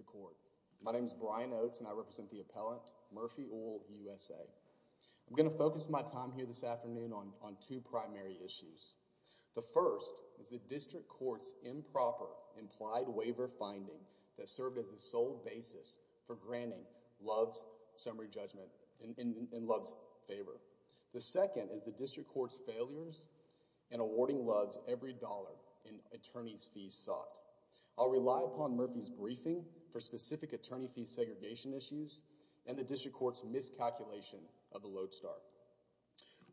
Court. My name is Brian Oates and I represent the appellant Murphy Oil USA. I'm going to focus my time here this afternoon on on two primary issues. The first is the district court's improper implied waiver finding that served as a sole basis for granting Love's summary judgment in Love's favor. The second is the district court's failures in awarding Love's every dollar in Murphy's briefing for specific attorney fee segregation issues and the district court's miscalculation of the lodestar.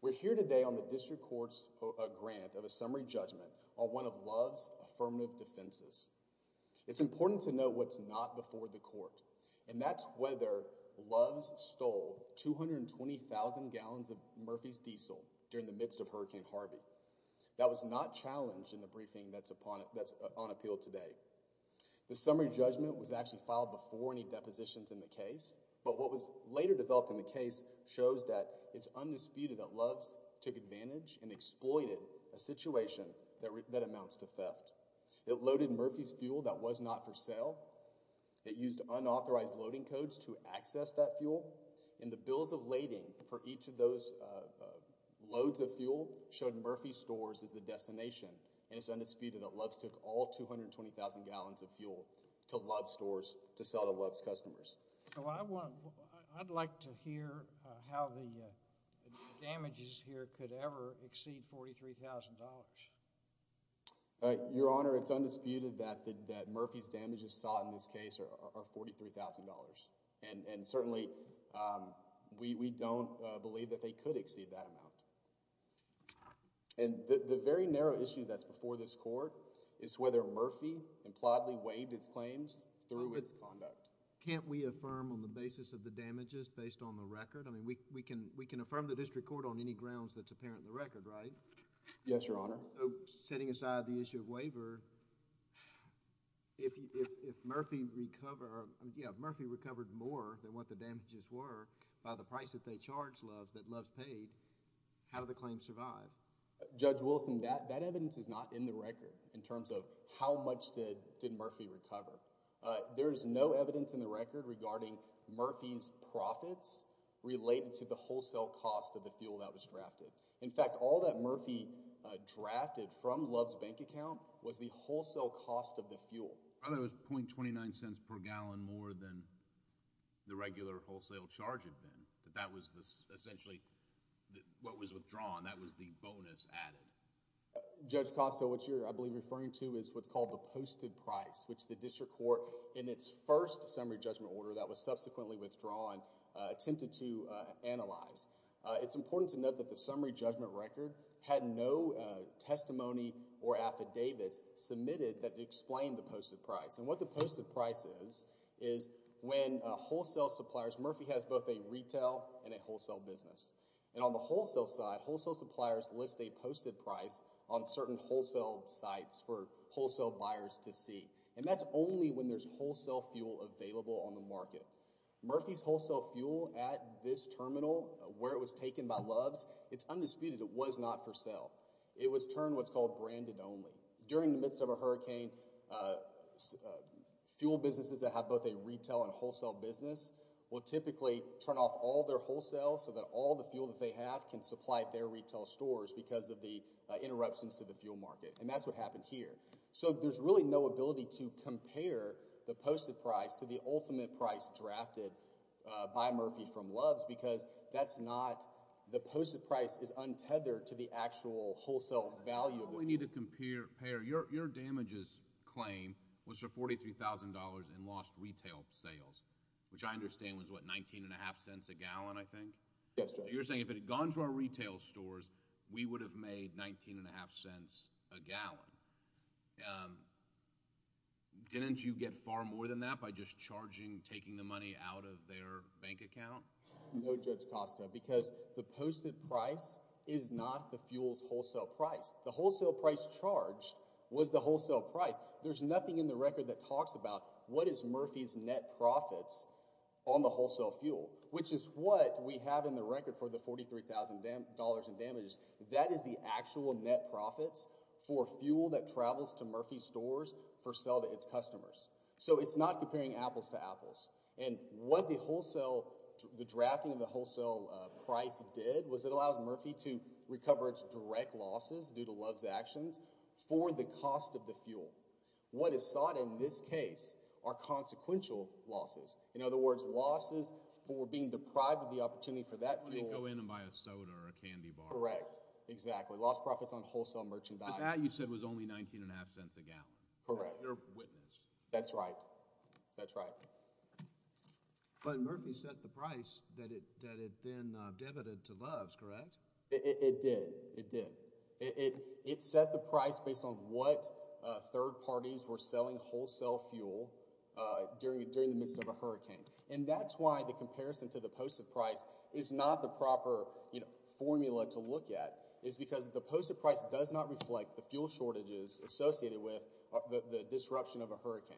We're here today on the district court's grant of a summary judgment on one of Love's affirmative defenses. It's important to know what's not before the court and that's whether Love's stole 220,000 gallons of Murphy's diesel during the midst of Hurricane Harvey. That was not challenged in the briefing that's on appeal today. The summary judgment was actually filed before any depositions in the case but what was later developed in the case shows that it's undisputed that Love's took advantage and exploited a situation that amounts to theft. It loaded Murphy's fuel that was not for sale. It used unauthorized loading codes to access that fuel and the bills of lading for each of those loads of fuel showed Murphy's stores as the destination and it's undisputed that Love's took all 220,000 gallons of fuel to Love's stores to sell to Love's customers. I'd like to hear how the damages here could ever exceed $43,000. Your Honor, it's undisputed that Murphy's damages sought in this case are $43,000 and certainly we don't believe that they could exceed that amount. And the very narrow issue that's before this Court is whether Murphy impliedly waived its claims through its conduct. Can't we affirm on the basis of the damages based on the record? I mean we can affirm the district court on any grounds that's apparent in the record, right? Yes, Your Honor. Setting aside the issue of waiver, if Murphy recovered more than what the claim was, how did the claim survive? Judge Wilson, that evidence is not in the record in terms of how much did Murphy recover. There is no evidence in the record regarding Murphy's profits related to the wholesale cost of the fuel that was drafted. In fact, all that Murphy drafted from Love's bank account was the wholesale cost of the fuel. I thought it was 0.29 cents per gallon more than the $43,000 that was withdrawn. That was the bonus added. Judge Costo, what you're, I believe, referring to is what's called the posted price, which the district court in its first summary judgment order that was subsequently withdrawn attempted to analyze. It's important to note that the summary judgment record had no testimony or affidavits submitted that explained the posted price. And what the posted price is, is when wholesale suppliers... Murphy has both a retail and a wholesale business. And on the wholesale suppliers list a posted price on certain wholesale sites for wholesale buyers to see. And that's only when there's wholesale fuel available on the market. Murphy's wholesale fuel at this terminal, where it was taken by Love's, it's undisputed it was not for sale. It was turned what's called branded only. During the midst of a hurricane, fuel businesses that have both a retail and wholesale business will typically turn off all their wholesale so that all the retail stores because of the interruptions to the fuel market. And that's what happened here. So there's really no ability to compare the posted price to the ultimate price drafted by Murphy from Love's because that's not... the posted price is untethered to the actual wholesale value. We need to compare... your damages claim was for $43,000 and lost retail sales, which I understand was what, 19 and a half cents a gallon, I think? Yes, Judge. You're saying if it had gone to our retail stores, we would have made 19 and a half cents a gallon. Didn't you get far more than that by just charging, taking the money out of their bank account? No, Judge Costa, because the posted price is not the fuel's wholesale price. The wholesale price charged was the wholesale price. There's nothing in the record that talks about what is Murphy's net profits on the wholesale fuel, which is what we have in the record for the $43,000 in damages. That is the actual net profits for fuel that travels to Murphy's stores for sale to its customers. So it's not comparing apples to apples. And what the wholesale... the drafting of the wholesale price did was it allows Murphy to recover its direct losses due to Love's actions for the cost of the fuel. What is in this case are consequential losses. In other words, losses for being deprived of the opportunity for that fuel... When you go in and buy a soda or a candy bar. Correct. Exactly. Lost profits on wholesale merchandise. But that you said was only 19 and a half cents a gallon. Correct. You're a witness. That's right. That's right. But Murphy set the price that it then debited to Love's, correct? It did. It did. It did not reflect on what third parties were selling wholesale fuel during the midst of a hurricane. And that's why the comparison to the postage price is not the proper formula to look at. It's because the postage price does not reflect the fuel shortages associated with the disruption of a hurricane.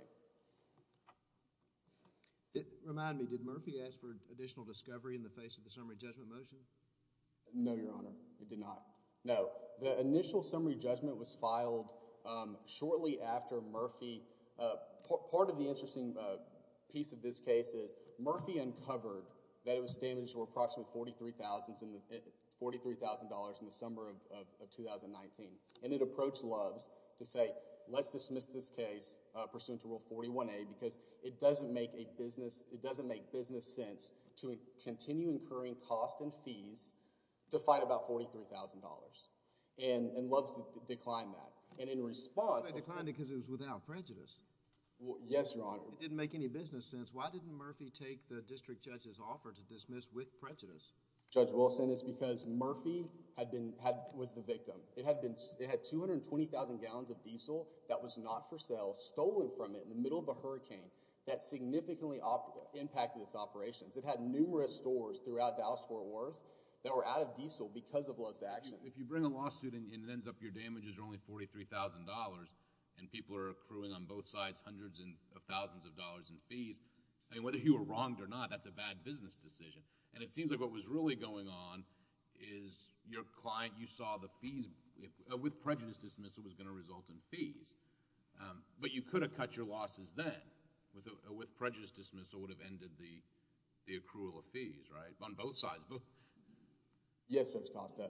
Remind me, did Murphy ask for additional discovery in the face of the summary judgment motion? No, Your Honor. It did not. No. The initial summary judgment was filed shortly after Murphy... Part of the interesting piece of this case is Murphy uncovered that it was damaged to approximately $43,000 in the summer of 2019. And it approached Love's to say, let's dismiss this case pursuant to Rule 41A because it doesn't make business sense to continue incurring costs and fees to fight about $43,000. And Love's declined that. And in response... They declined it because it was without prejudice. Yes, Your Honor. It didn't make any business sense. Why didn't Murphy take the district judge's offer to dismiss with prejudice? Judge Wilson, it's because Murphy was the victim. It had 220,000 gallons of diesel that was not for sale stolen from it in the middle of a hurricane that significantly impacted its operations. It had numerous stores throughout Dallas-Fort Worth that were out of diesel because of Love's actions. If you bring a lawsuit and it ends up your damages are only $43,000 and people are accruing on both sides hundreds of thousands of dollars in fees, I mean, whether you were wronged or not, that's a bad business decision. And it seems like what was really going on is your client, you saw the fees... with prejudice dismissal was going to result in fees. But you could have cut your losses then. With prejudice dismissal would have ended the accrual of fees, right, on both sides. Yes, Judge Costa.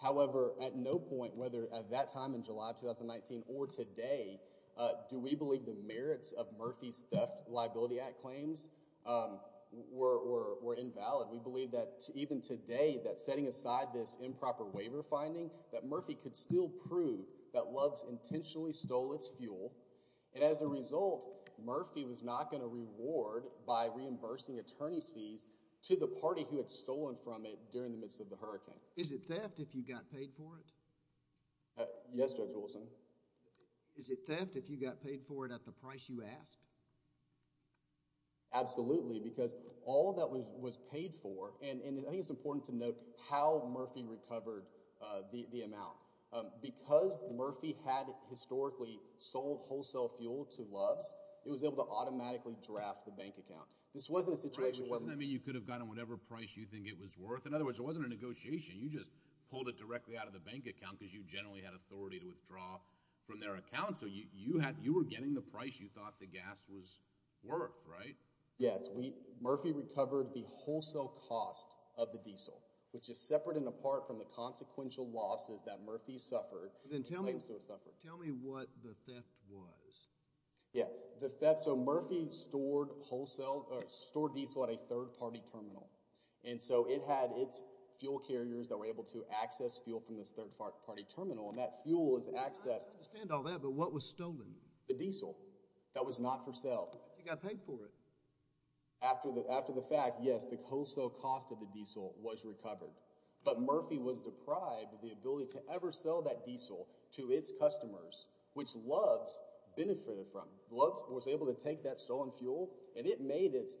However, at no point, whether at that time in July of 2019 or today, do we believe the merits of Murphy's Theft Liability Act claims were invalid. We believe that even today, that setting aside this improper waiver finding, that Murphy could still prove that Love's intentionally stole its fuel. And as a result, Murphy was not going to reward by reimbursing attorney's fees to the party who had stolen from it during the midst of the hurricane. Is it theft if you got paid for it? Yes, Judge Wilson. Is it theft if you got paid for it at the price you asked? Absolutely, because all that was was paid for... and I think it's important to note how Murphy recovered the amount. Because Murphy had historically sold wholesale fuel to Love's, it was able to automatically draft the bank account. This wasn't a situation... Doesn't that mean you could have gotten whatever price you think it was worth? In other words, it wasn't a negotiation. You just pulled it directly out of the bank account because you generally had authority to withdraw from their account. So you were getting the price you thought the gas was worth, right? Yes. Murphy recovered the wholesale cost of the diesel, which is separate and apart from the consequential losses that Murphy suffered. Then tell me what the theft was. Yeah, the theft. So Murphy stored diesel at a third-party terminal, and so it had its fuel carriers that were able to access fuel from this third-party terminal, and that fuel is accessed... I understand all that, but what was stolen? The diesel. That was not for sale. You got paid for it. After the fact, yes, the wholesale cost of the diesel was recovered. But Murphy was deprived of the customers, which Luggs benefited from. Luggs was able to take that stolen fuel, and it made its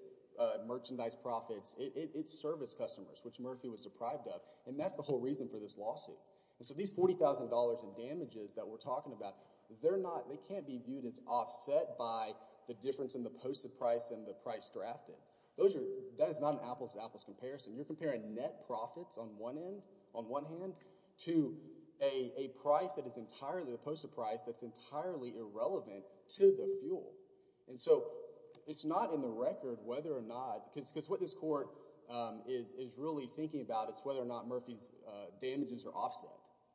merchandise profits. It served its customers, which Murphy was deprived of, and that's the whole reason for this lawsuit. So these $40,000 in damages that we're talking about, they're not... they can't be viewed as offset by the difference in the posted price and the price drafted. That is not an apples-to-apples comparison. You're comparing net profits on one end, on one hand, to a price that is entirely... the posted price that's entirely irrelevant to the fuel. And so it's not in the record whether or not... because what this court is really thinking about is whether or not Murphy's damages are offset,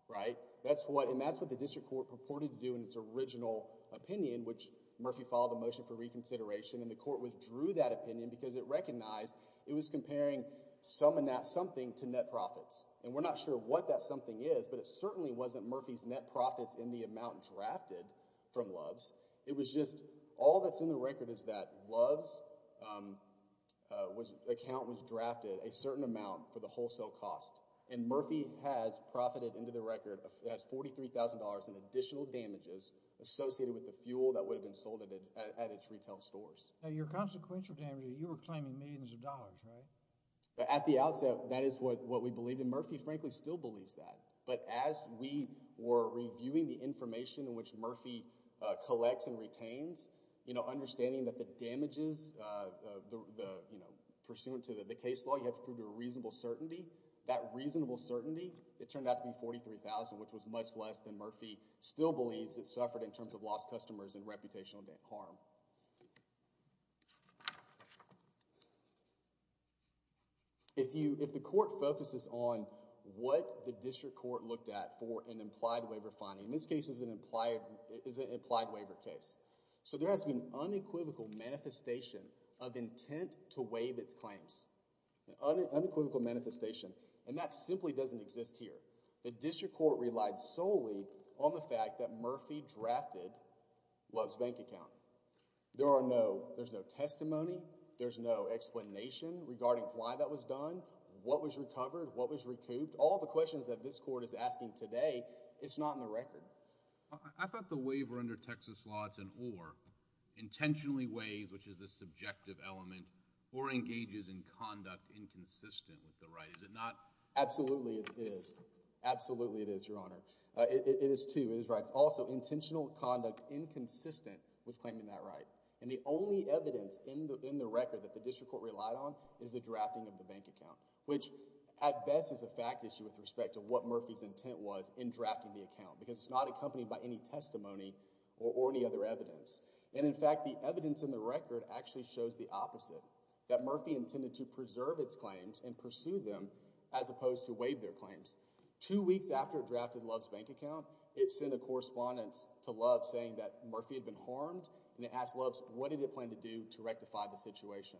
right? And that's what the district court purported to do in its original opinion, which Murphy followed a motion for reconsideration, and the court withdrew that opinion because it recognized it was comparing something to net profits. And we're not sure what that something is, but it certainly wasn't Murphy's net profits in the amount drafted from Luggs. It was just... all that's in the record is that Luggs' account was drafted a certain amount for the wholesale cost, and Murphy has profited into the record $43,000 in additional damages associated with the fuel that would have been sold at its retail stores. Now, your consequential damages, you were claiming millions of dollars, right? At the outset, that is what we believed, and Murphy, frankly, still believes that. But as we were reviewing the information in which Murphy collects and retains, you know, understanding that the damages, you know, pursuant to the case law, you have to prove there's reasonable certainty. That reasonable certainty, it turned out to be $43,000, which was much less than Murphy still believes it suffered in terms of lost customers and reputational harm. If you... if the court focuses on what the district court looked at for an implied waiver finding, and this case is an implied... is an implied waiver case, so there has been unequivocal manifestation of intent to waive its claims. Unequivocal manifestation, and that simply doesn't exist here. The district court relied solely on the fact that Murphy drafted Love's bank account. There are no... there's no testimony. There's no explanation regarding why that was done, what was recovered, what was recouped. All the questions that this court is asking today, it's not in the record. I thought the waiver under Texas Law, it's an or. Intentionally waives, which is the subjective element, or engages in conduct inconsistent with the right. Is it not? Absolutely, it is. Absolutely, it is, Your Honor. It is, too. It is right. But it's also intentional conduct inconsistent with claiming that right. And the only evidence in the record that the district court relied on is the drafting of the bank account, which, at best, is a fact issue with respect to what Murphy's intent was in drafting the account, because it's not accompanied by any testimony or any other evidence. And, in fact, the evidence in the record actually shows the opposite, that Murphy intended to preserve its claims and pursue them as opposed to waive their claims. Two weeks after it drafted Love's bank account, it sent a correspondence to Love saying that Murphy had been harmed, and it asked Love's, what did it plan to do to rectify the situation?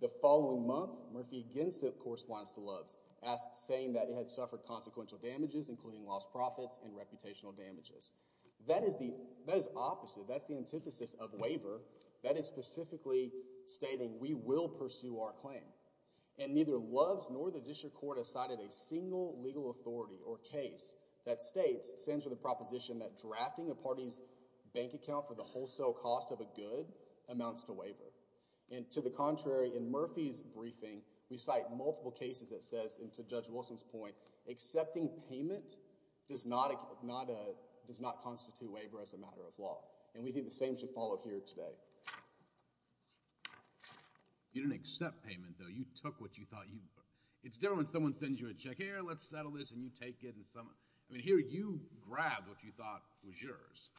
The following month, Murphy again sent correspondence to Love's, saying that it had suffered consequential damages, including lost profits and reputational damages. That is the opposite. That's the antithesis of waiver. That is specifically stating, we will pursue our claim. And neither Love's nor the district court has cited a waiver. It stands for the proposition that drafting a party's bank account for the wholesale cost of a good amounts to waiver. And, to the contrary, in Murphy's briefing, we cite multiple cases that says, and to Judge Wilson's point, accepting payment does not constitute waiver as a matter of law. And we think the same should follow here today. You didn't accept payment, though. You took what you thought you... It's different when someone sends you a check, and you say, here, let's settle this, and you take it, and someone... I mean, here, you grab what you thought was yours.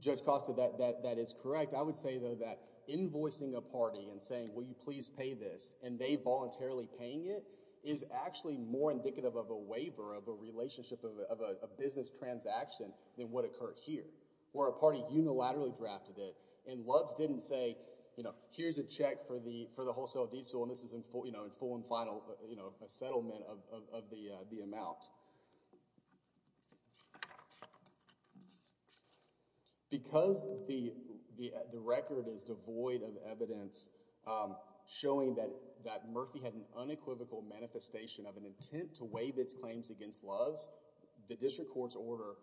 Judge Costa, that is correct. I would say, though, that invoicing a party and saying, will you please pay this, and they voluntarily paying it, is actually more indicative of a waiver, of a relationship, of a business transaction than what occurred here, where a party unilaterally drafted it, and Love's didn't say, you know, here's a check for the wholesale diesel, and this is in full and final, you know, a settlement of the amount. Because the record is devoid of evidence showing that Murphy had an unequivocal manifestation of an intent to waive its claims against Love's, the District Court's order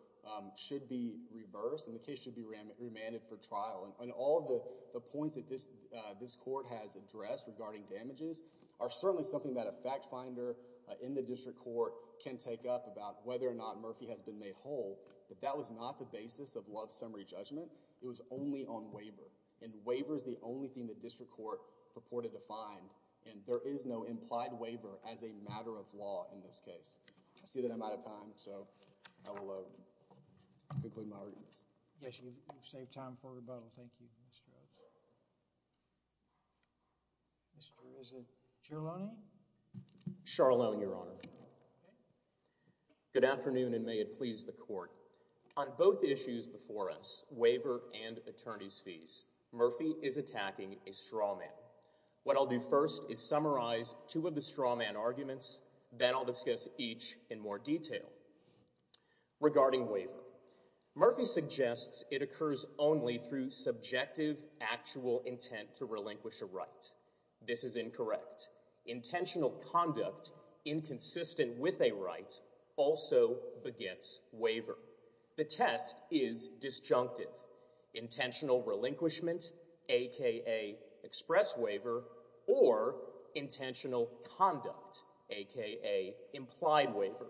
should be reversed, and the case should be remanded for trial. And all of the points that this Court has addressed regarding damages are certainly something that a fact finder in the District Court can take up about whether or not Murphy has been made whole, but that was not the basis of Love's summary judgment. It was only on waiver, and waiver is the only thing the District Court purported to find, and there is no implied waiver as a matter of law in this case. I see that I'm out of time, so I will conclude my remarks. Yes, you've saved time for rebuttal. Thank you, Judge Costa. Mr. Rosen, Charlone? Charlone, Your Honor. Good afternoon, and may it please the Court. On both issues before us, waiver and attorney's fees, Murphy is attacking a straw man. What I'll do first is summarize two of the straw man arguments, then I'll discuss each in more detail. Regarding Murphy suggests it occurs only through subjective, actual intent to relinquish a right. This is incorrect. Intentional conduct inconsistent with a right also begets waiver. The test is disjunctive. Intentional relinquishment, aka express waiver, or intentional conduct, aka implied waiver.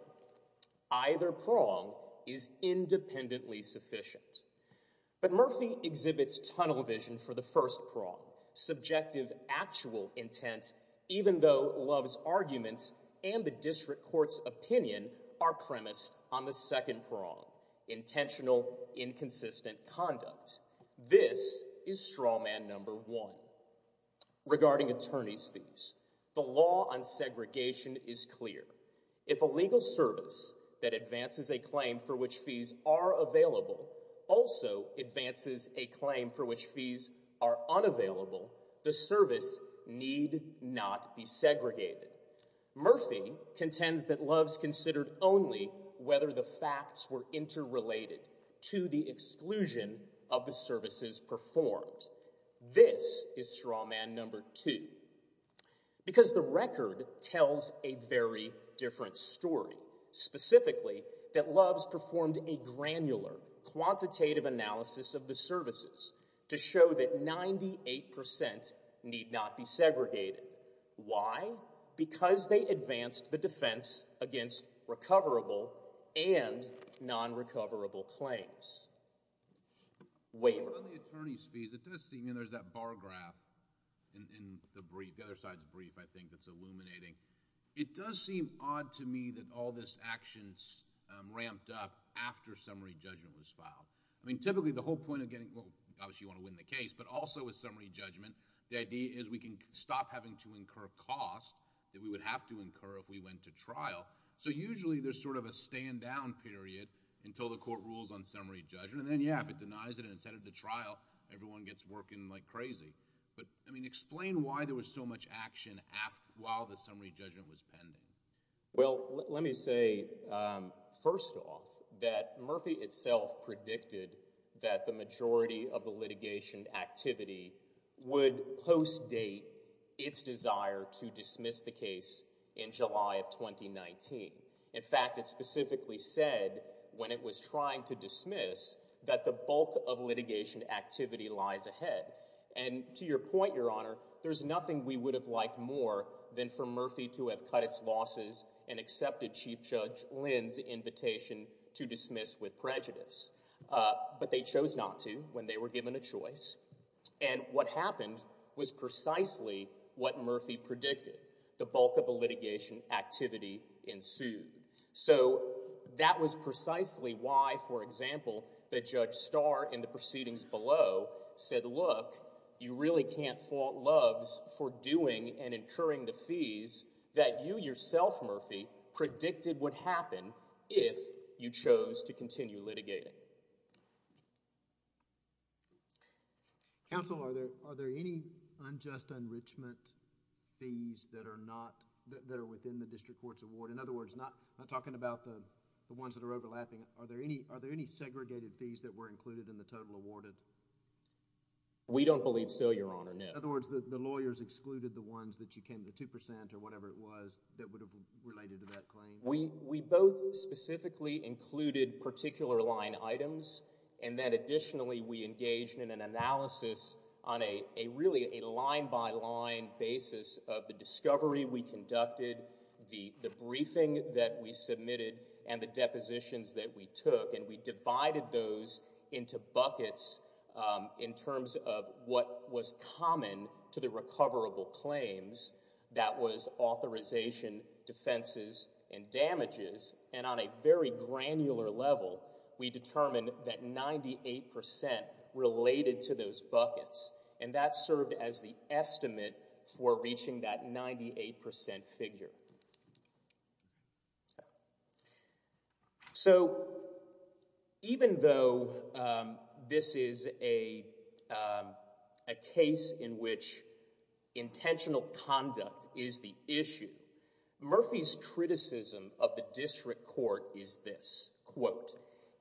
Either prong is independently sufficient. But Murphy exhibits tunnel vision for the first prong. Subjective, actual intent, even though Love's arguments and the District Court's opinion are premised on the second prong, intentional inconsistent conduct. This is straw man number one. Regarding attorney's fees, the law on segregation is clear. If a legal service that advances a claim for which fees are available also advances a claim for which fees are unavailable, the service need not be segregated. Murphy contends that performed. This is straw man number two. Because the record tells a very different story. Specifically, that Love's performed a granular, quantitative analysis of the services to show that 98% need not be segregated. Why? Because they advanced the defense against recoverable and non-recoverable claims. Waiver. On the attorney's fees, it does seem, and there's that bar graph in the brief, the other side's brief, I think, that's illuminating. It does seem odd to me that all this action's ramped up after summary judgment was filed. I mean, typically the whole point of getting, well, obviously you want to win the case, but also with summary judgment, the idea is we can stop having to incur costs that we would have to incur if we went to trial. So usually there's sort of a stand down period until the court rules on summary judgment. And then, yeah, if it denies it and it's headed to trial, everyone gets working like crazy. But, I mean, explain why there was so much action while the summary judgment was pending. Well, let me say, first off, that Murphy itself predicted that the majority of the litigation activity would post-date its desire to dismiss the case in July of 2019. In fact, it specifically said when it was trying to dismiss that the bulk of litigation activity lies ahead. And to your point, Your Honor, there's nothing we would have liked more than for Murphy to have cut its losses and accepted Chief Judge Lynn's invitation to dismiss with prejudice. But they chose not to when they were given a choice. And what happened was precisely what Murphy predicted. The bulk of the litigation activity ensued. So that was precisely why, for example, that Judge Starr in the proceedings below said, look, you really can't fault Loves for doing and incurring the fees that you yourself, Murphy, predicted would happen if you chose to continue litigating. Counsel, are there any unjust enrichment fees that are not, that are within the district court's award? In other words, not talking about the ones that are overlapping, are there any segregated fees that were included in the total awarded? We don't believe so, Your Honor, no. In other words, the lawyers excluded the ones that you came to 2 percent or whatever it was that would have related to that claim? We both specifically included particular line items and then engaged in an analysis on a really a line-by-line basis of the discovery we conducted, the briefing that we submitted, and the depositions that we took. And we divided those into buckets in terms of what was common to the recoverable claims. That was authorization, defenses, and damages. And on a very granular level, we determined that 98 percent related to those buckets. And that served as the estimate for reaching that 98 percent figure. So, even though this is a case in which intentional conduct is the issue, Murphy's criticism of the district court is this, quote,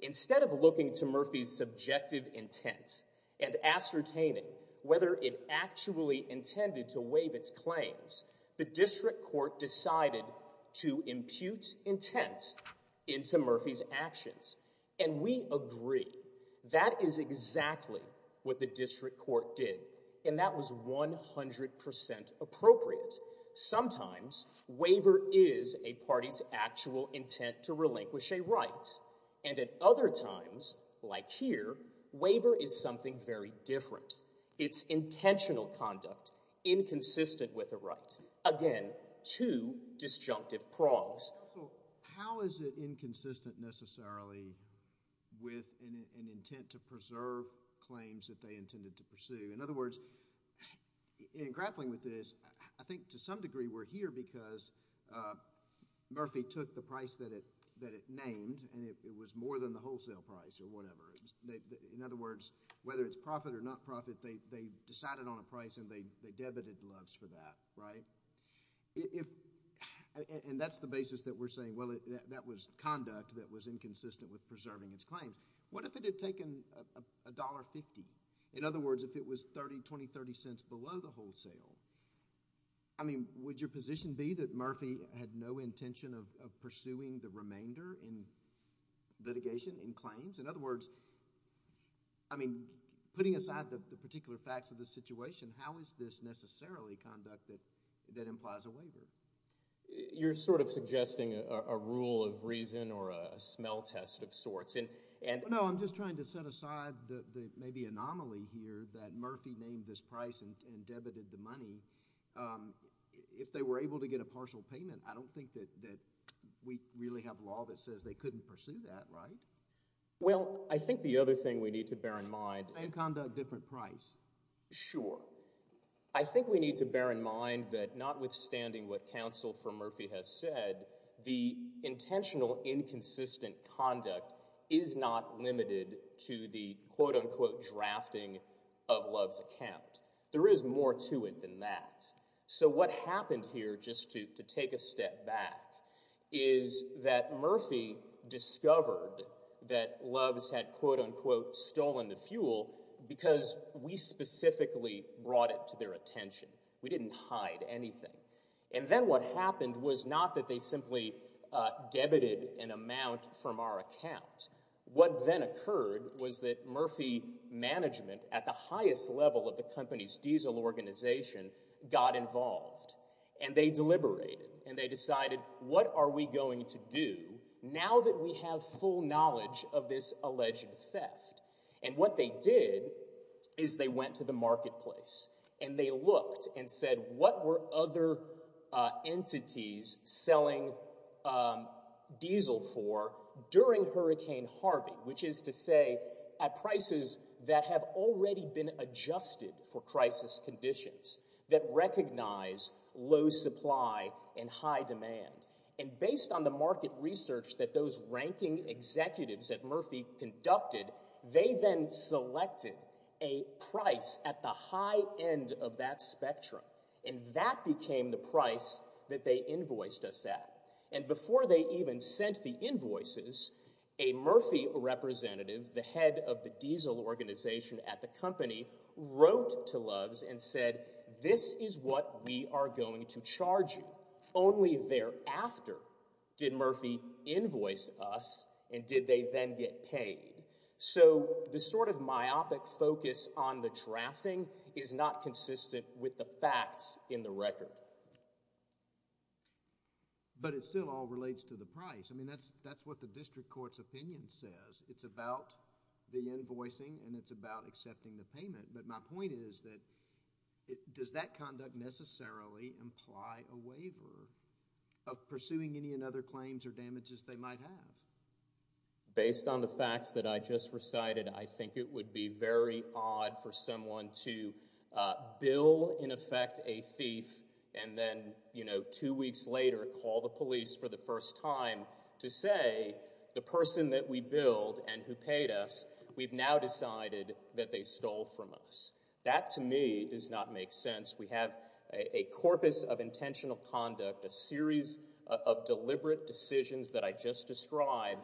instead of looking to Murphy's subjective intent and ascertaining whether it actually intended to waive its claims, the district court decided to impute intent into Murphy's actions. And we agree. That is exactly what the district court did. And that was 100 percent appropriate. Sometimes, waiver is a party's actual intent to relinquish a right. And at other times, like here, waiver is something very different. It's intentional conduct inconsistent with a right. Again, two disjunctive prongs. So, how is it inconsistent necessarily with an intent to preserve claims that they intended to pursue? In other words, in grappling with this, I think to some degree we're here because Murphy took the price that it named, and it was more than the wholesale price or whatever. In other words, whether it's profit or not profit, they decided on a price, and they debited loves for that, right? And that's the basis that we're saying, well, that was conduct that was inconsistent with preserving its claims. What if it had taken $1.50? In other words, if it was 30, 20, 30 cents below the wholesale, I mean, would your position be that Murphy had no intention of pursuing the remainder in litigation, in claims? In other words, I mean, putting aside the particular facts of the situation, how is this necessarily conduct that implies a waiver? You're sort of suggesting a rule of reason or a smell test of sorts. No, I'm just trying to set aside the maybe anomaly here that Murphy named this price and that we really have law that says they couldn't pursue that, right? Well, I think the other thing we need to bear in mind— Same conduct, different price. Sure. I think we need to bear in mind that notwithstanding what counsel for Murphy has said, the intentional inconsistent conduct is not limited to the, quote-unquote, drafting of is that Murphy discovered that Loves had, quote-unquote, stolen the fuel because we specifically brought it to their attention. We didn't hide anything. And then what happened was not that they simply debited an amount from our account. What then occurred was that Murphy management, at the highest level of the company's diesel organization, got involved and they deliberated and they decided, what are we going to do now that we have full knowledge of this alleged theft? And what they did is they went to the marketplace and they looked and said, what were other entities selling diesel for during Hurricane Harvey? Which is to say, at prices that have already been adjusted for crisis conditions that recognize low supply and high demand. And based on the market research that those ranking executives at Murphy conducted, they then selected a price at the high end of that spectrum. And that became the price that they invoiced us at. And before they even sent the invoices, a Murphy representative, the head of the diesel organization at the company, wrote to Loves and said, this is what we are going to charge you. Only thereafter did Murphy invoice us and did they then get paid. So the sort of myopic focus on the drafting is not consistent with the facts in the record. But it still all relates to the price. I mean, that's what the district court's opinion says. It's about the invoicing and it's about accepting the payment. But my point is that does that conduct necessarily imply a waiver of pursuing any other claims or damages they might have? Based on the facts that I just recited, I think it would be very odd for someone to bill, in effect, a thief. And then, you know, two weeks later, call the police for the first time to say the person that we billed and who paid us, we've now decided that they stole from us. That, to me, does not make sense. We have a corpus of intentional conduct, a series of deliberate decisions that I just described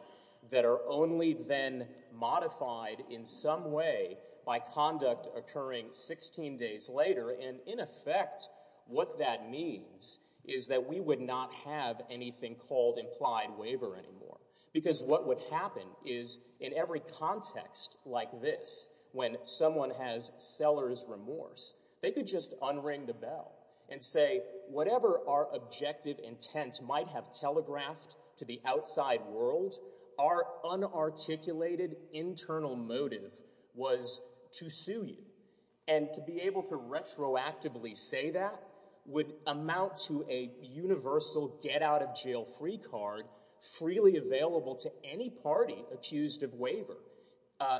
that are only then modified in some way by conduct occurring 16 days later. And in effect, what that means is that we would not have anything called implied waiver anymore. Because what would happen is in every context like this, when someone has seller's remorse, they could just unring the bell and say, whatever our objective intent might have telegraphed to the outside world, our unarticulated internal motive was to sue you. And to be able to freely available to any party accused of waiver.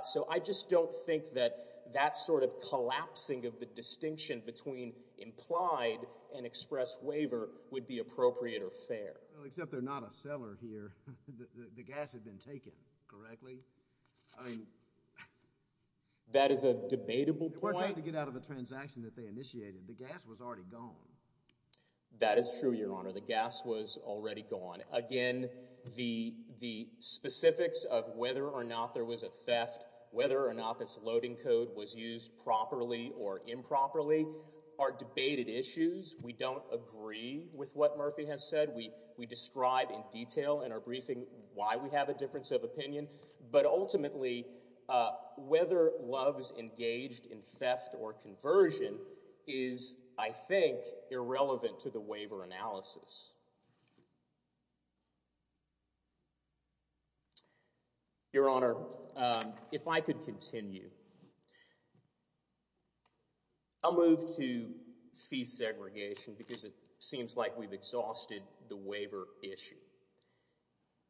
So I just don't think that that sort of collapsing of the distinction between implied and expressed waiver would be appropriate or fair. Except they're not a seller here. The gas had been taken, correctly? That is a debatable point. We're trying to get out of a transaction that they initiated. The gas was already gone. That is true, Your Honor. The gas was already gone. Again, the specifics of whether or not there was a theft, whether or not this loading code was used properly or improperly are debated issues. We don't agree with what Murphy has said. We describe in detail in our briefing why we have a difference of opinion. But ultimately, whether Love's engaged in theft or conversion is, I think, irrelevant to the waiver analysis. Your Honor, if I could continue. I'll move to fee segregation because it seems like we've exhausted the waiver issue.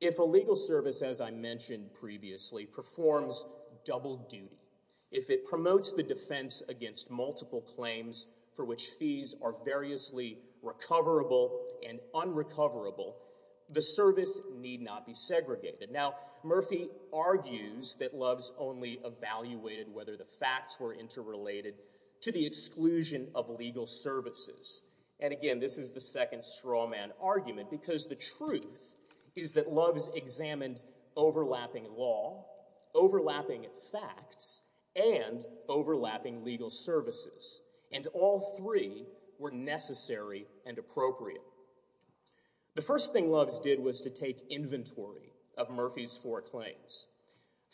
If a legal service, as I mentioned previously, performs double duty, if it promotes the defense against multiple claims for which fees are variously recoverable and unrecoverable, the service need not be segregated. Now, Murphy argues that Love's only evaluated whether the facts were interrelated to the exclusion of legal services. And again, this is the second straw man argument because the truth is that Love's examined overlapping law, overlapping facts, and overlapping legal services. And all three were necessary and appropriate. The first thing Love's did was to take inventory of Murphy's four claims.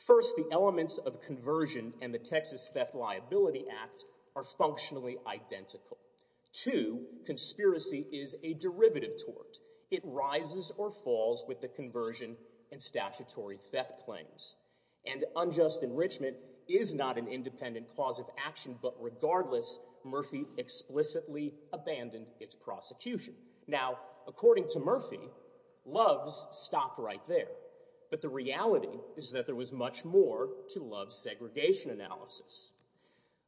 First, the elements of conversion and the Texas Theft Liability Act are functionally identical. Two, conspiracy is a is not an independent cause of action. But regardless, Murphy explicitly abandoned its prosecution. Now, according to Murphy, Love's stopped right there. But the reality is that there was much more to Love's segregation analysis.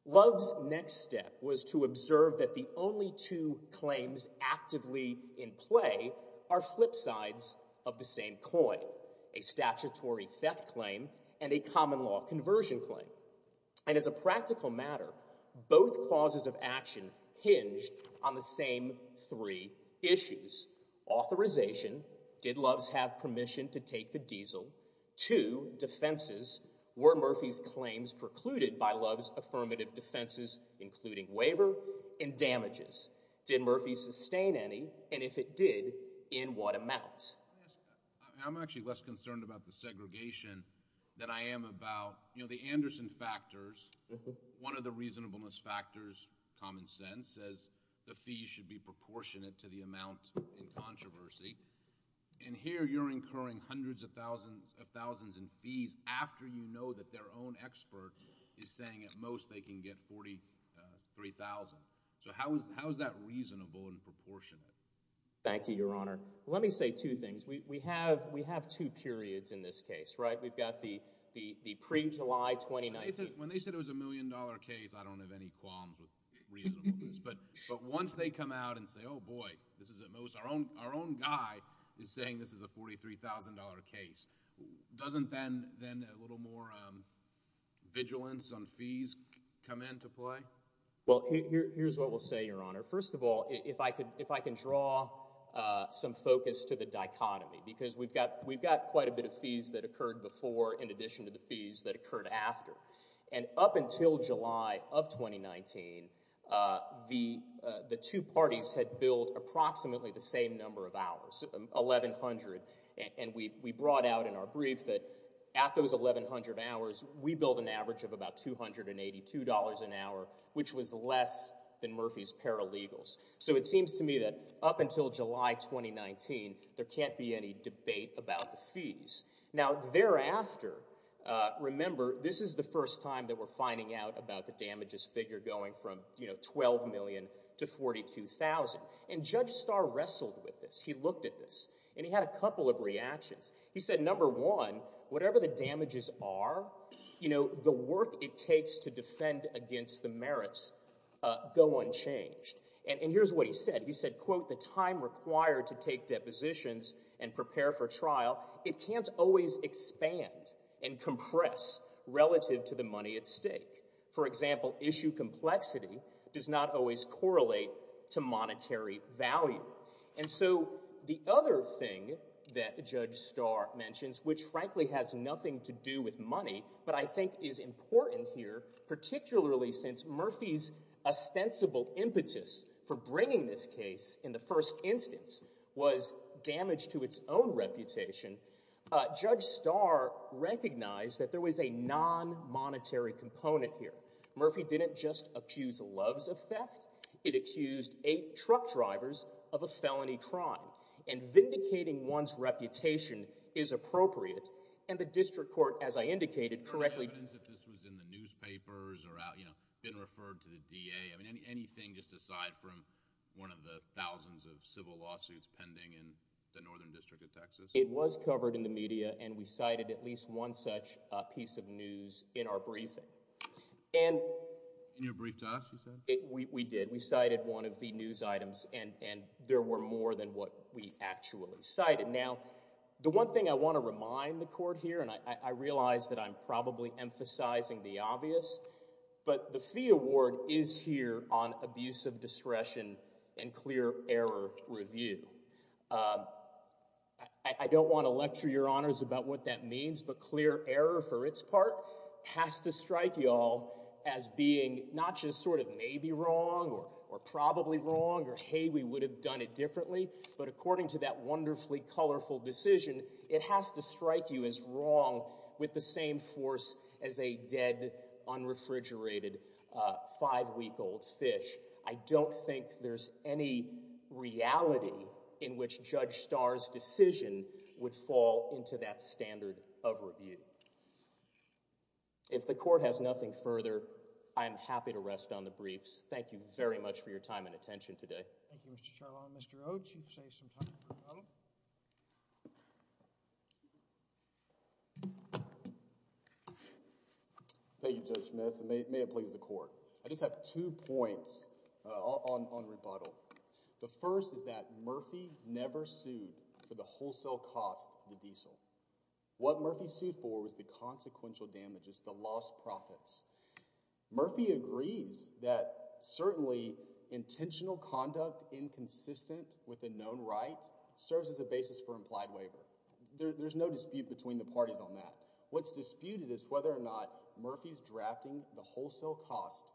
Love's next step was to observe that the only two claims actively in play are flip sides of the same coin, a statutory theft claim and a common law conversion claim. And as a practical matter, both causes of action hinged on the same three issues. Authorization, did Love's have permission to take the diesel? Two, defenses, were Murphy's claims precluded by Love's affirmative defenses, including waiver and damages? Did Murphy sustain any? And if it did, in what amount? I'm actually less concerned about the segregation than I am about, you know, the Anderson factors. One of the reasonableness factors, common sense, says the fees should be proportionate to the amount in controversy. And here you're incurring hundreds of thousands of thousands in fees after you know that their own expert is saying at most they can get 43,000. So how is how is that we have two periods in this case, right? We've got the pre-July 2019. When they said it was a million dollar case, I don't have any qualms with reasonable news, but once they come out and say, oh boy, this is at most our own our own guy is saying this is a $43,000 case. Doesn't then a little more vigilance on fees come into play? Well, here's what we'll say, Your Honor. First of all, if I could if I can draw some focus to the dichotomy, because we've got we've got quite a bit of fees that occurred before in addition to the fees that occurred after. And up until July of 2019, the two parties had billed approximately the same number of hours, 1,100. And we brought out in our brief that at those 1,100 hours, we billed an average of about $282 an hour, which was less than Murphy's Paralegals. So it seems to me that up until July 2019, there can't be any debate about the fees. Now, thereafter, remember, this is the first time that we're finding out about the damages figure going from, you know, $12 million to $42,000. And Judge Starr wrestled with this. He looked at this, and he had a couple of reactions. He said, number one, whatever the And here's what he said. He said, quote, And so the other thing that Judge Starr mentions, which frankly has nothing to do with money, but I think is important here, particularly since Murphy's ostensible impetus for bringing this case in the first instance was damage to its own reputation, Judge Starr recognized that there was a non-monetary component here. Murphy didn't just accuse Loves of theft. It accused eight truck drivers of a felony crime. And vindicating one's reputation is appropriate. And the district court, as I indicated, correctly, It was covered in the media, and we cited at least one such piece of news in our briefing. We did. We cited one of the news items, and there were more than what we actually cited. Now, the one thing I want to remind the court here, and I realize that I'm probably emphasizing the obvious, but the Fee Award is here on abuse of discretion and clear error review. I don't want to lecture your honors about what that means, but clear error for its part has to strike y'all as being not just sort of maybe wrong or probably wrong or, hey, we would have done it differently, but according to that wonderfully colorful decision, it has to strike you as wrong with the same force as a dead, unrefrigerated, five-week-old fish. I don't think there's any reality in which Judge Starr's decision would fall into that standard of review. If the court has nothing further, I'm happy to rest on the briefs. Thank you very much for your time and attention today. Thank you, Mr. Charlon. Mr. Oates, you've saved some time. Thank you, Judge Smith, and may it please the court. I just have two points on rebuttal. The first is that Murphy never sued for the wholesale cost of the diesel. What Murphy sued for was the consequential damages, the lost profits. Murphy agrees that certainly intentional conduct inconsistent with a known right serves as a basis for implied waiver. There's no dispute between the parties on that. What's disputed is whether or not Murphy's drafting the wholesale cost,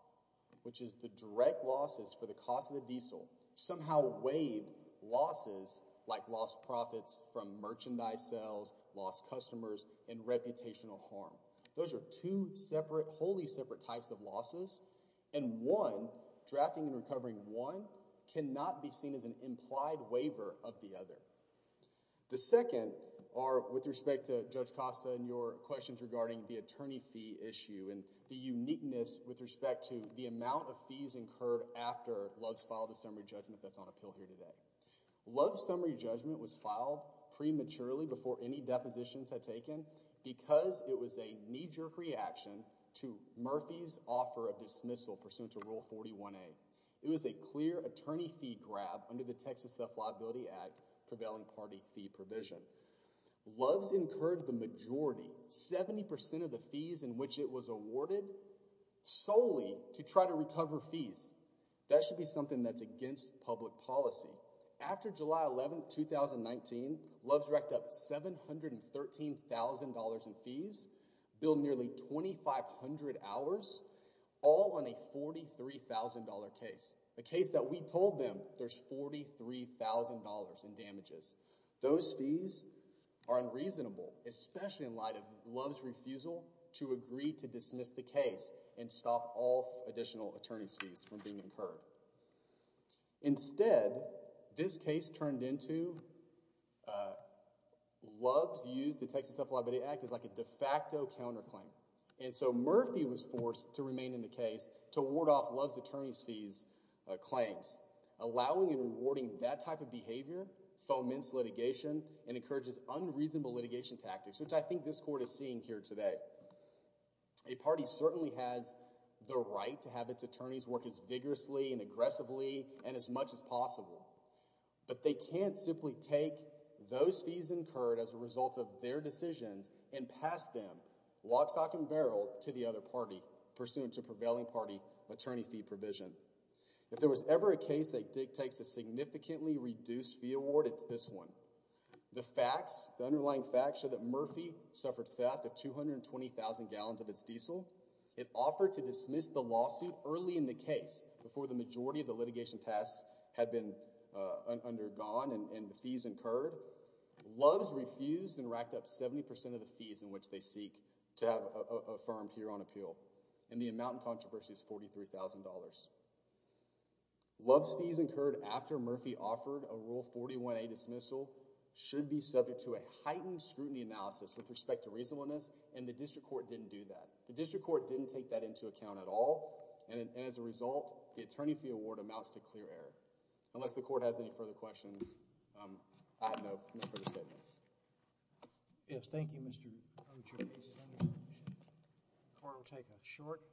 which is the direct losses for the cost of the diesel, somehow weighed losses like lost profits from merchandise sales, lost customers, and reputational harm. Those are two separate, wholly separate types of losses, and one, drafting and recovering one, cannot be seen as an implied waiver of the other. The second are with respect to Judge Costa and your questions regarding the attorney fee issue and the uniqueness with respect to the amount of fees incurred after Love's filed a summary judgment that's on appeal here today. Love's summary judgment was filed prematurely before any depositions had taken because it was a knee-jerk reaction to Murphy's offer of dismissal pursuant to Rule 41A. It was a clear attorney fee grab under the Texas Self-Liability Act prevailing party fee provision. Love's incurred the majority, 70 percent of the fees in which it was against public policy. After July 11, 2019, Love's racked up $713,000 in fees, billed nearly 2,500 hours, all on a $43,000 case, a case that we told them there's $43,000 in damages. Those fees are unreasonable, especially in light of Love's refusal to agree to dismiss the case and stop all additional attorney's fees from being incurred. Instead, this case turned into Love's used the Texas Self-Liability Act as like a de facto counterclaim, and so Murphy was forced to remain in the case to ward off Love's attorney's fees claims, allowing and rewarding that type of behavior foments litigation and encourages unreasonable litigation tactics, which I think this court is seeing here today. A party certainly has the right to have its attorneys work as vigorously and aggressively and as much as possible, but they can't simply take those fees incurred as a result of their decisions and pass them lock, stock, and barrel to the other party pursuant to prevailing party attorney fee provision. If there was ever a case that dictates a significantly reduced fee this one. The underlying facts show that Murphy suffered theft of 220,000 gallons of its diesel. It offered to dismiss the lawsuit early in the case before the majority of the litigation tasks had been undergone and the fees incurred. Love's refused and racked up 70% of the fees in which they seek to have affirmed here on appeal, and the amount in controversy is $43,000. Love's fees incurred after Murphy offered a rule 41A dismissal should be subject to a heightened scrutiny analysis with respect to reasonableness, and the district court didn't do that. The district court didn't take that into account at all, and as a result, the attorney fee award amounts to clear error. Unless the court has any further questions, I have no further statements. Yes, thank you, Mr. Ochoa. The court will take that short.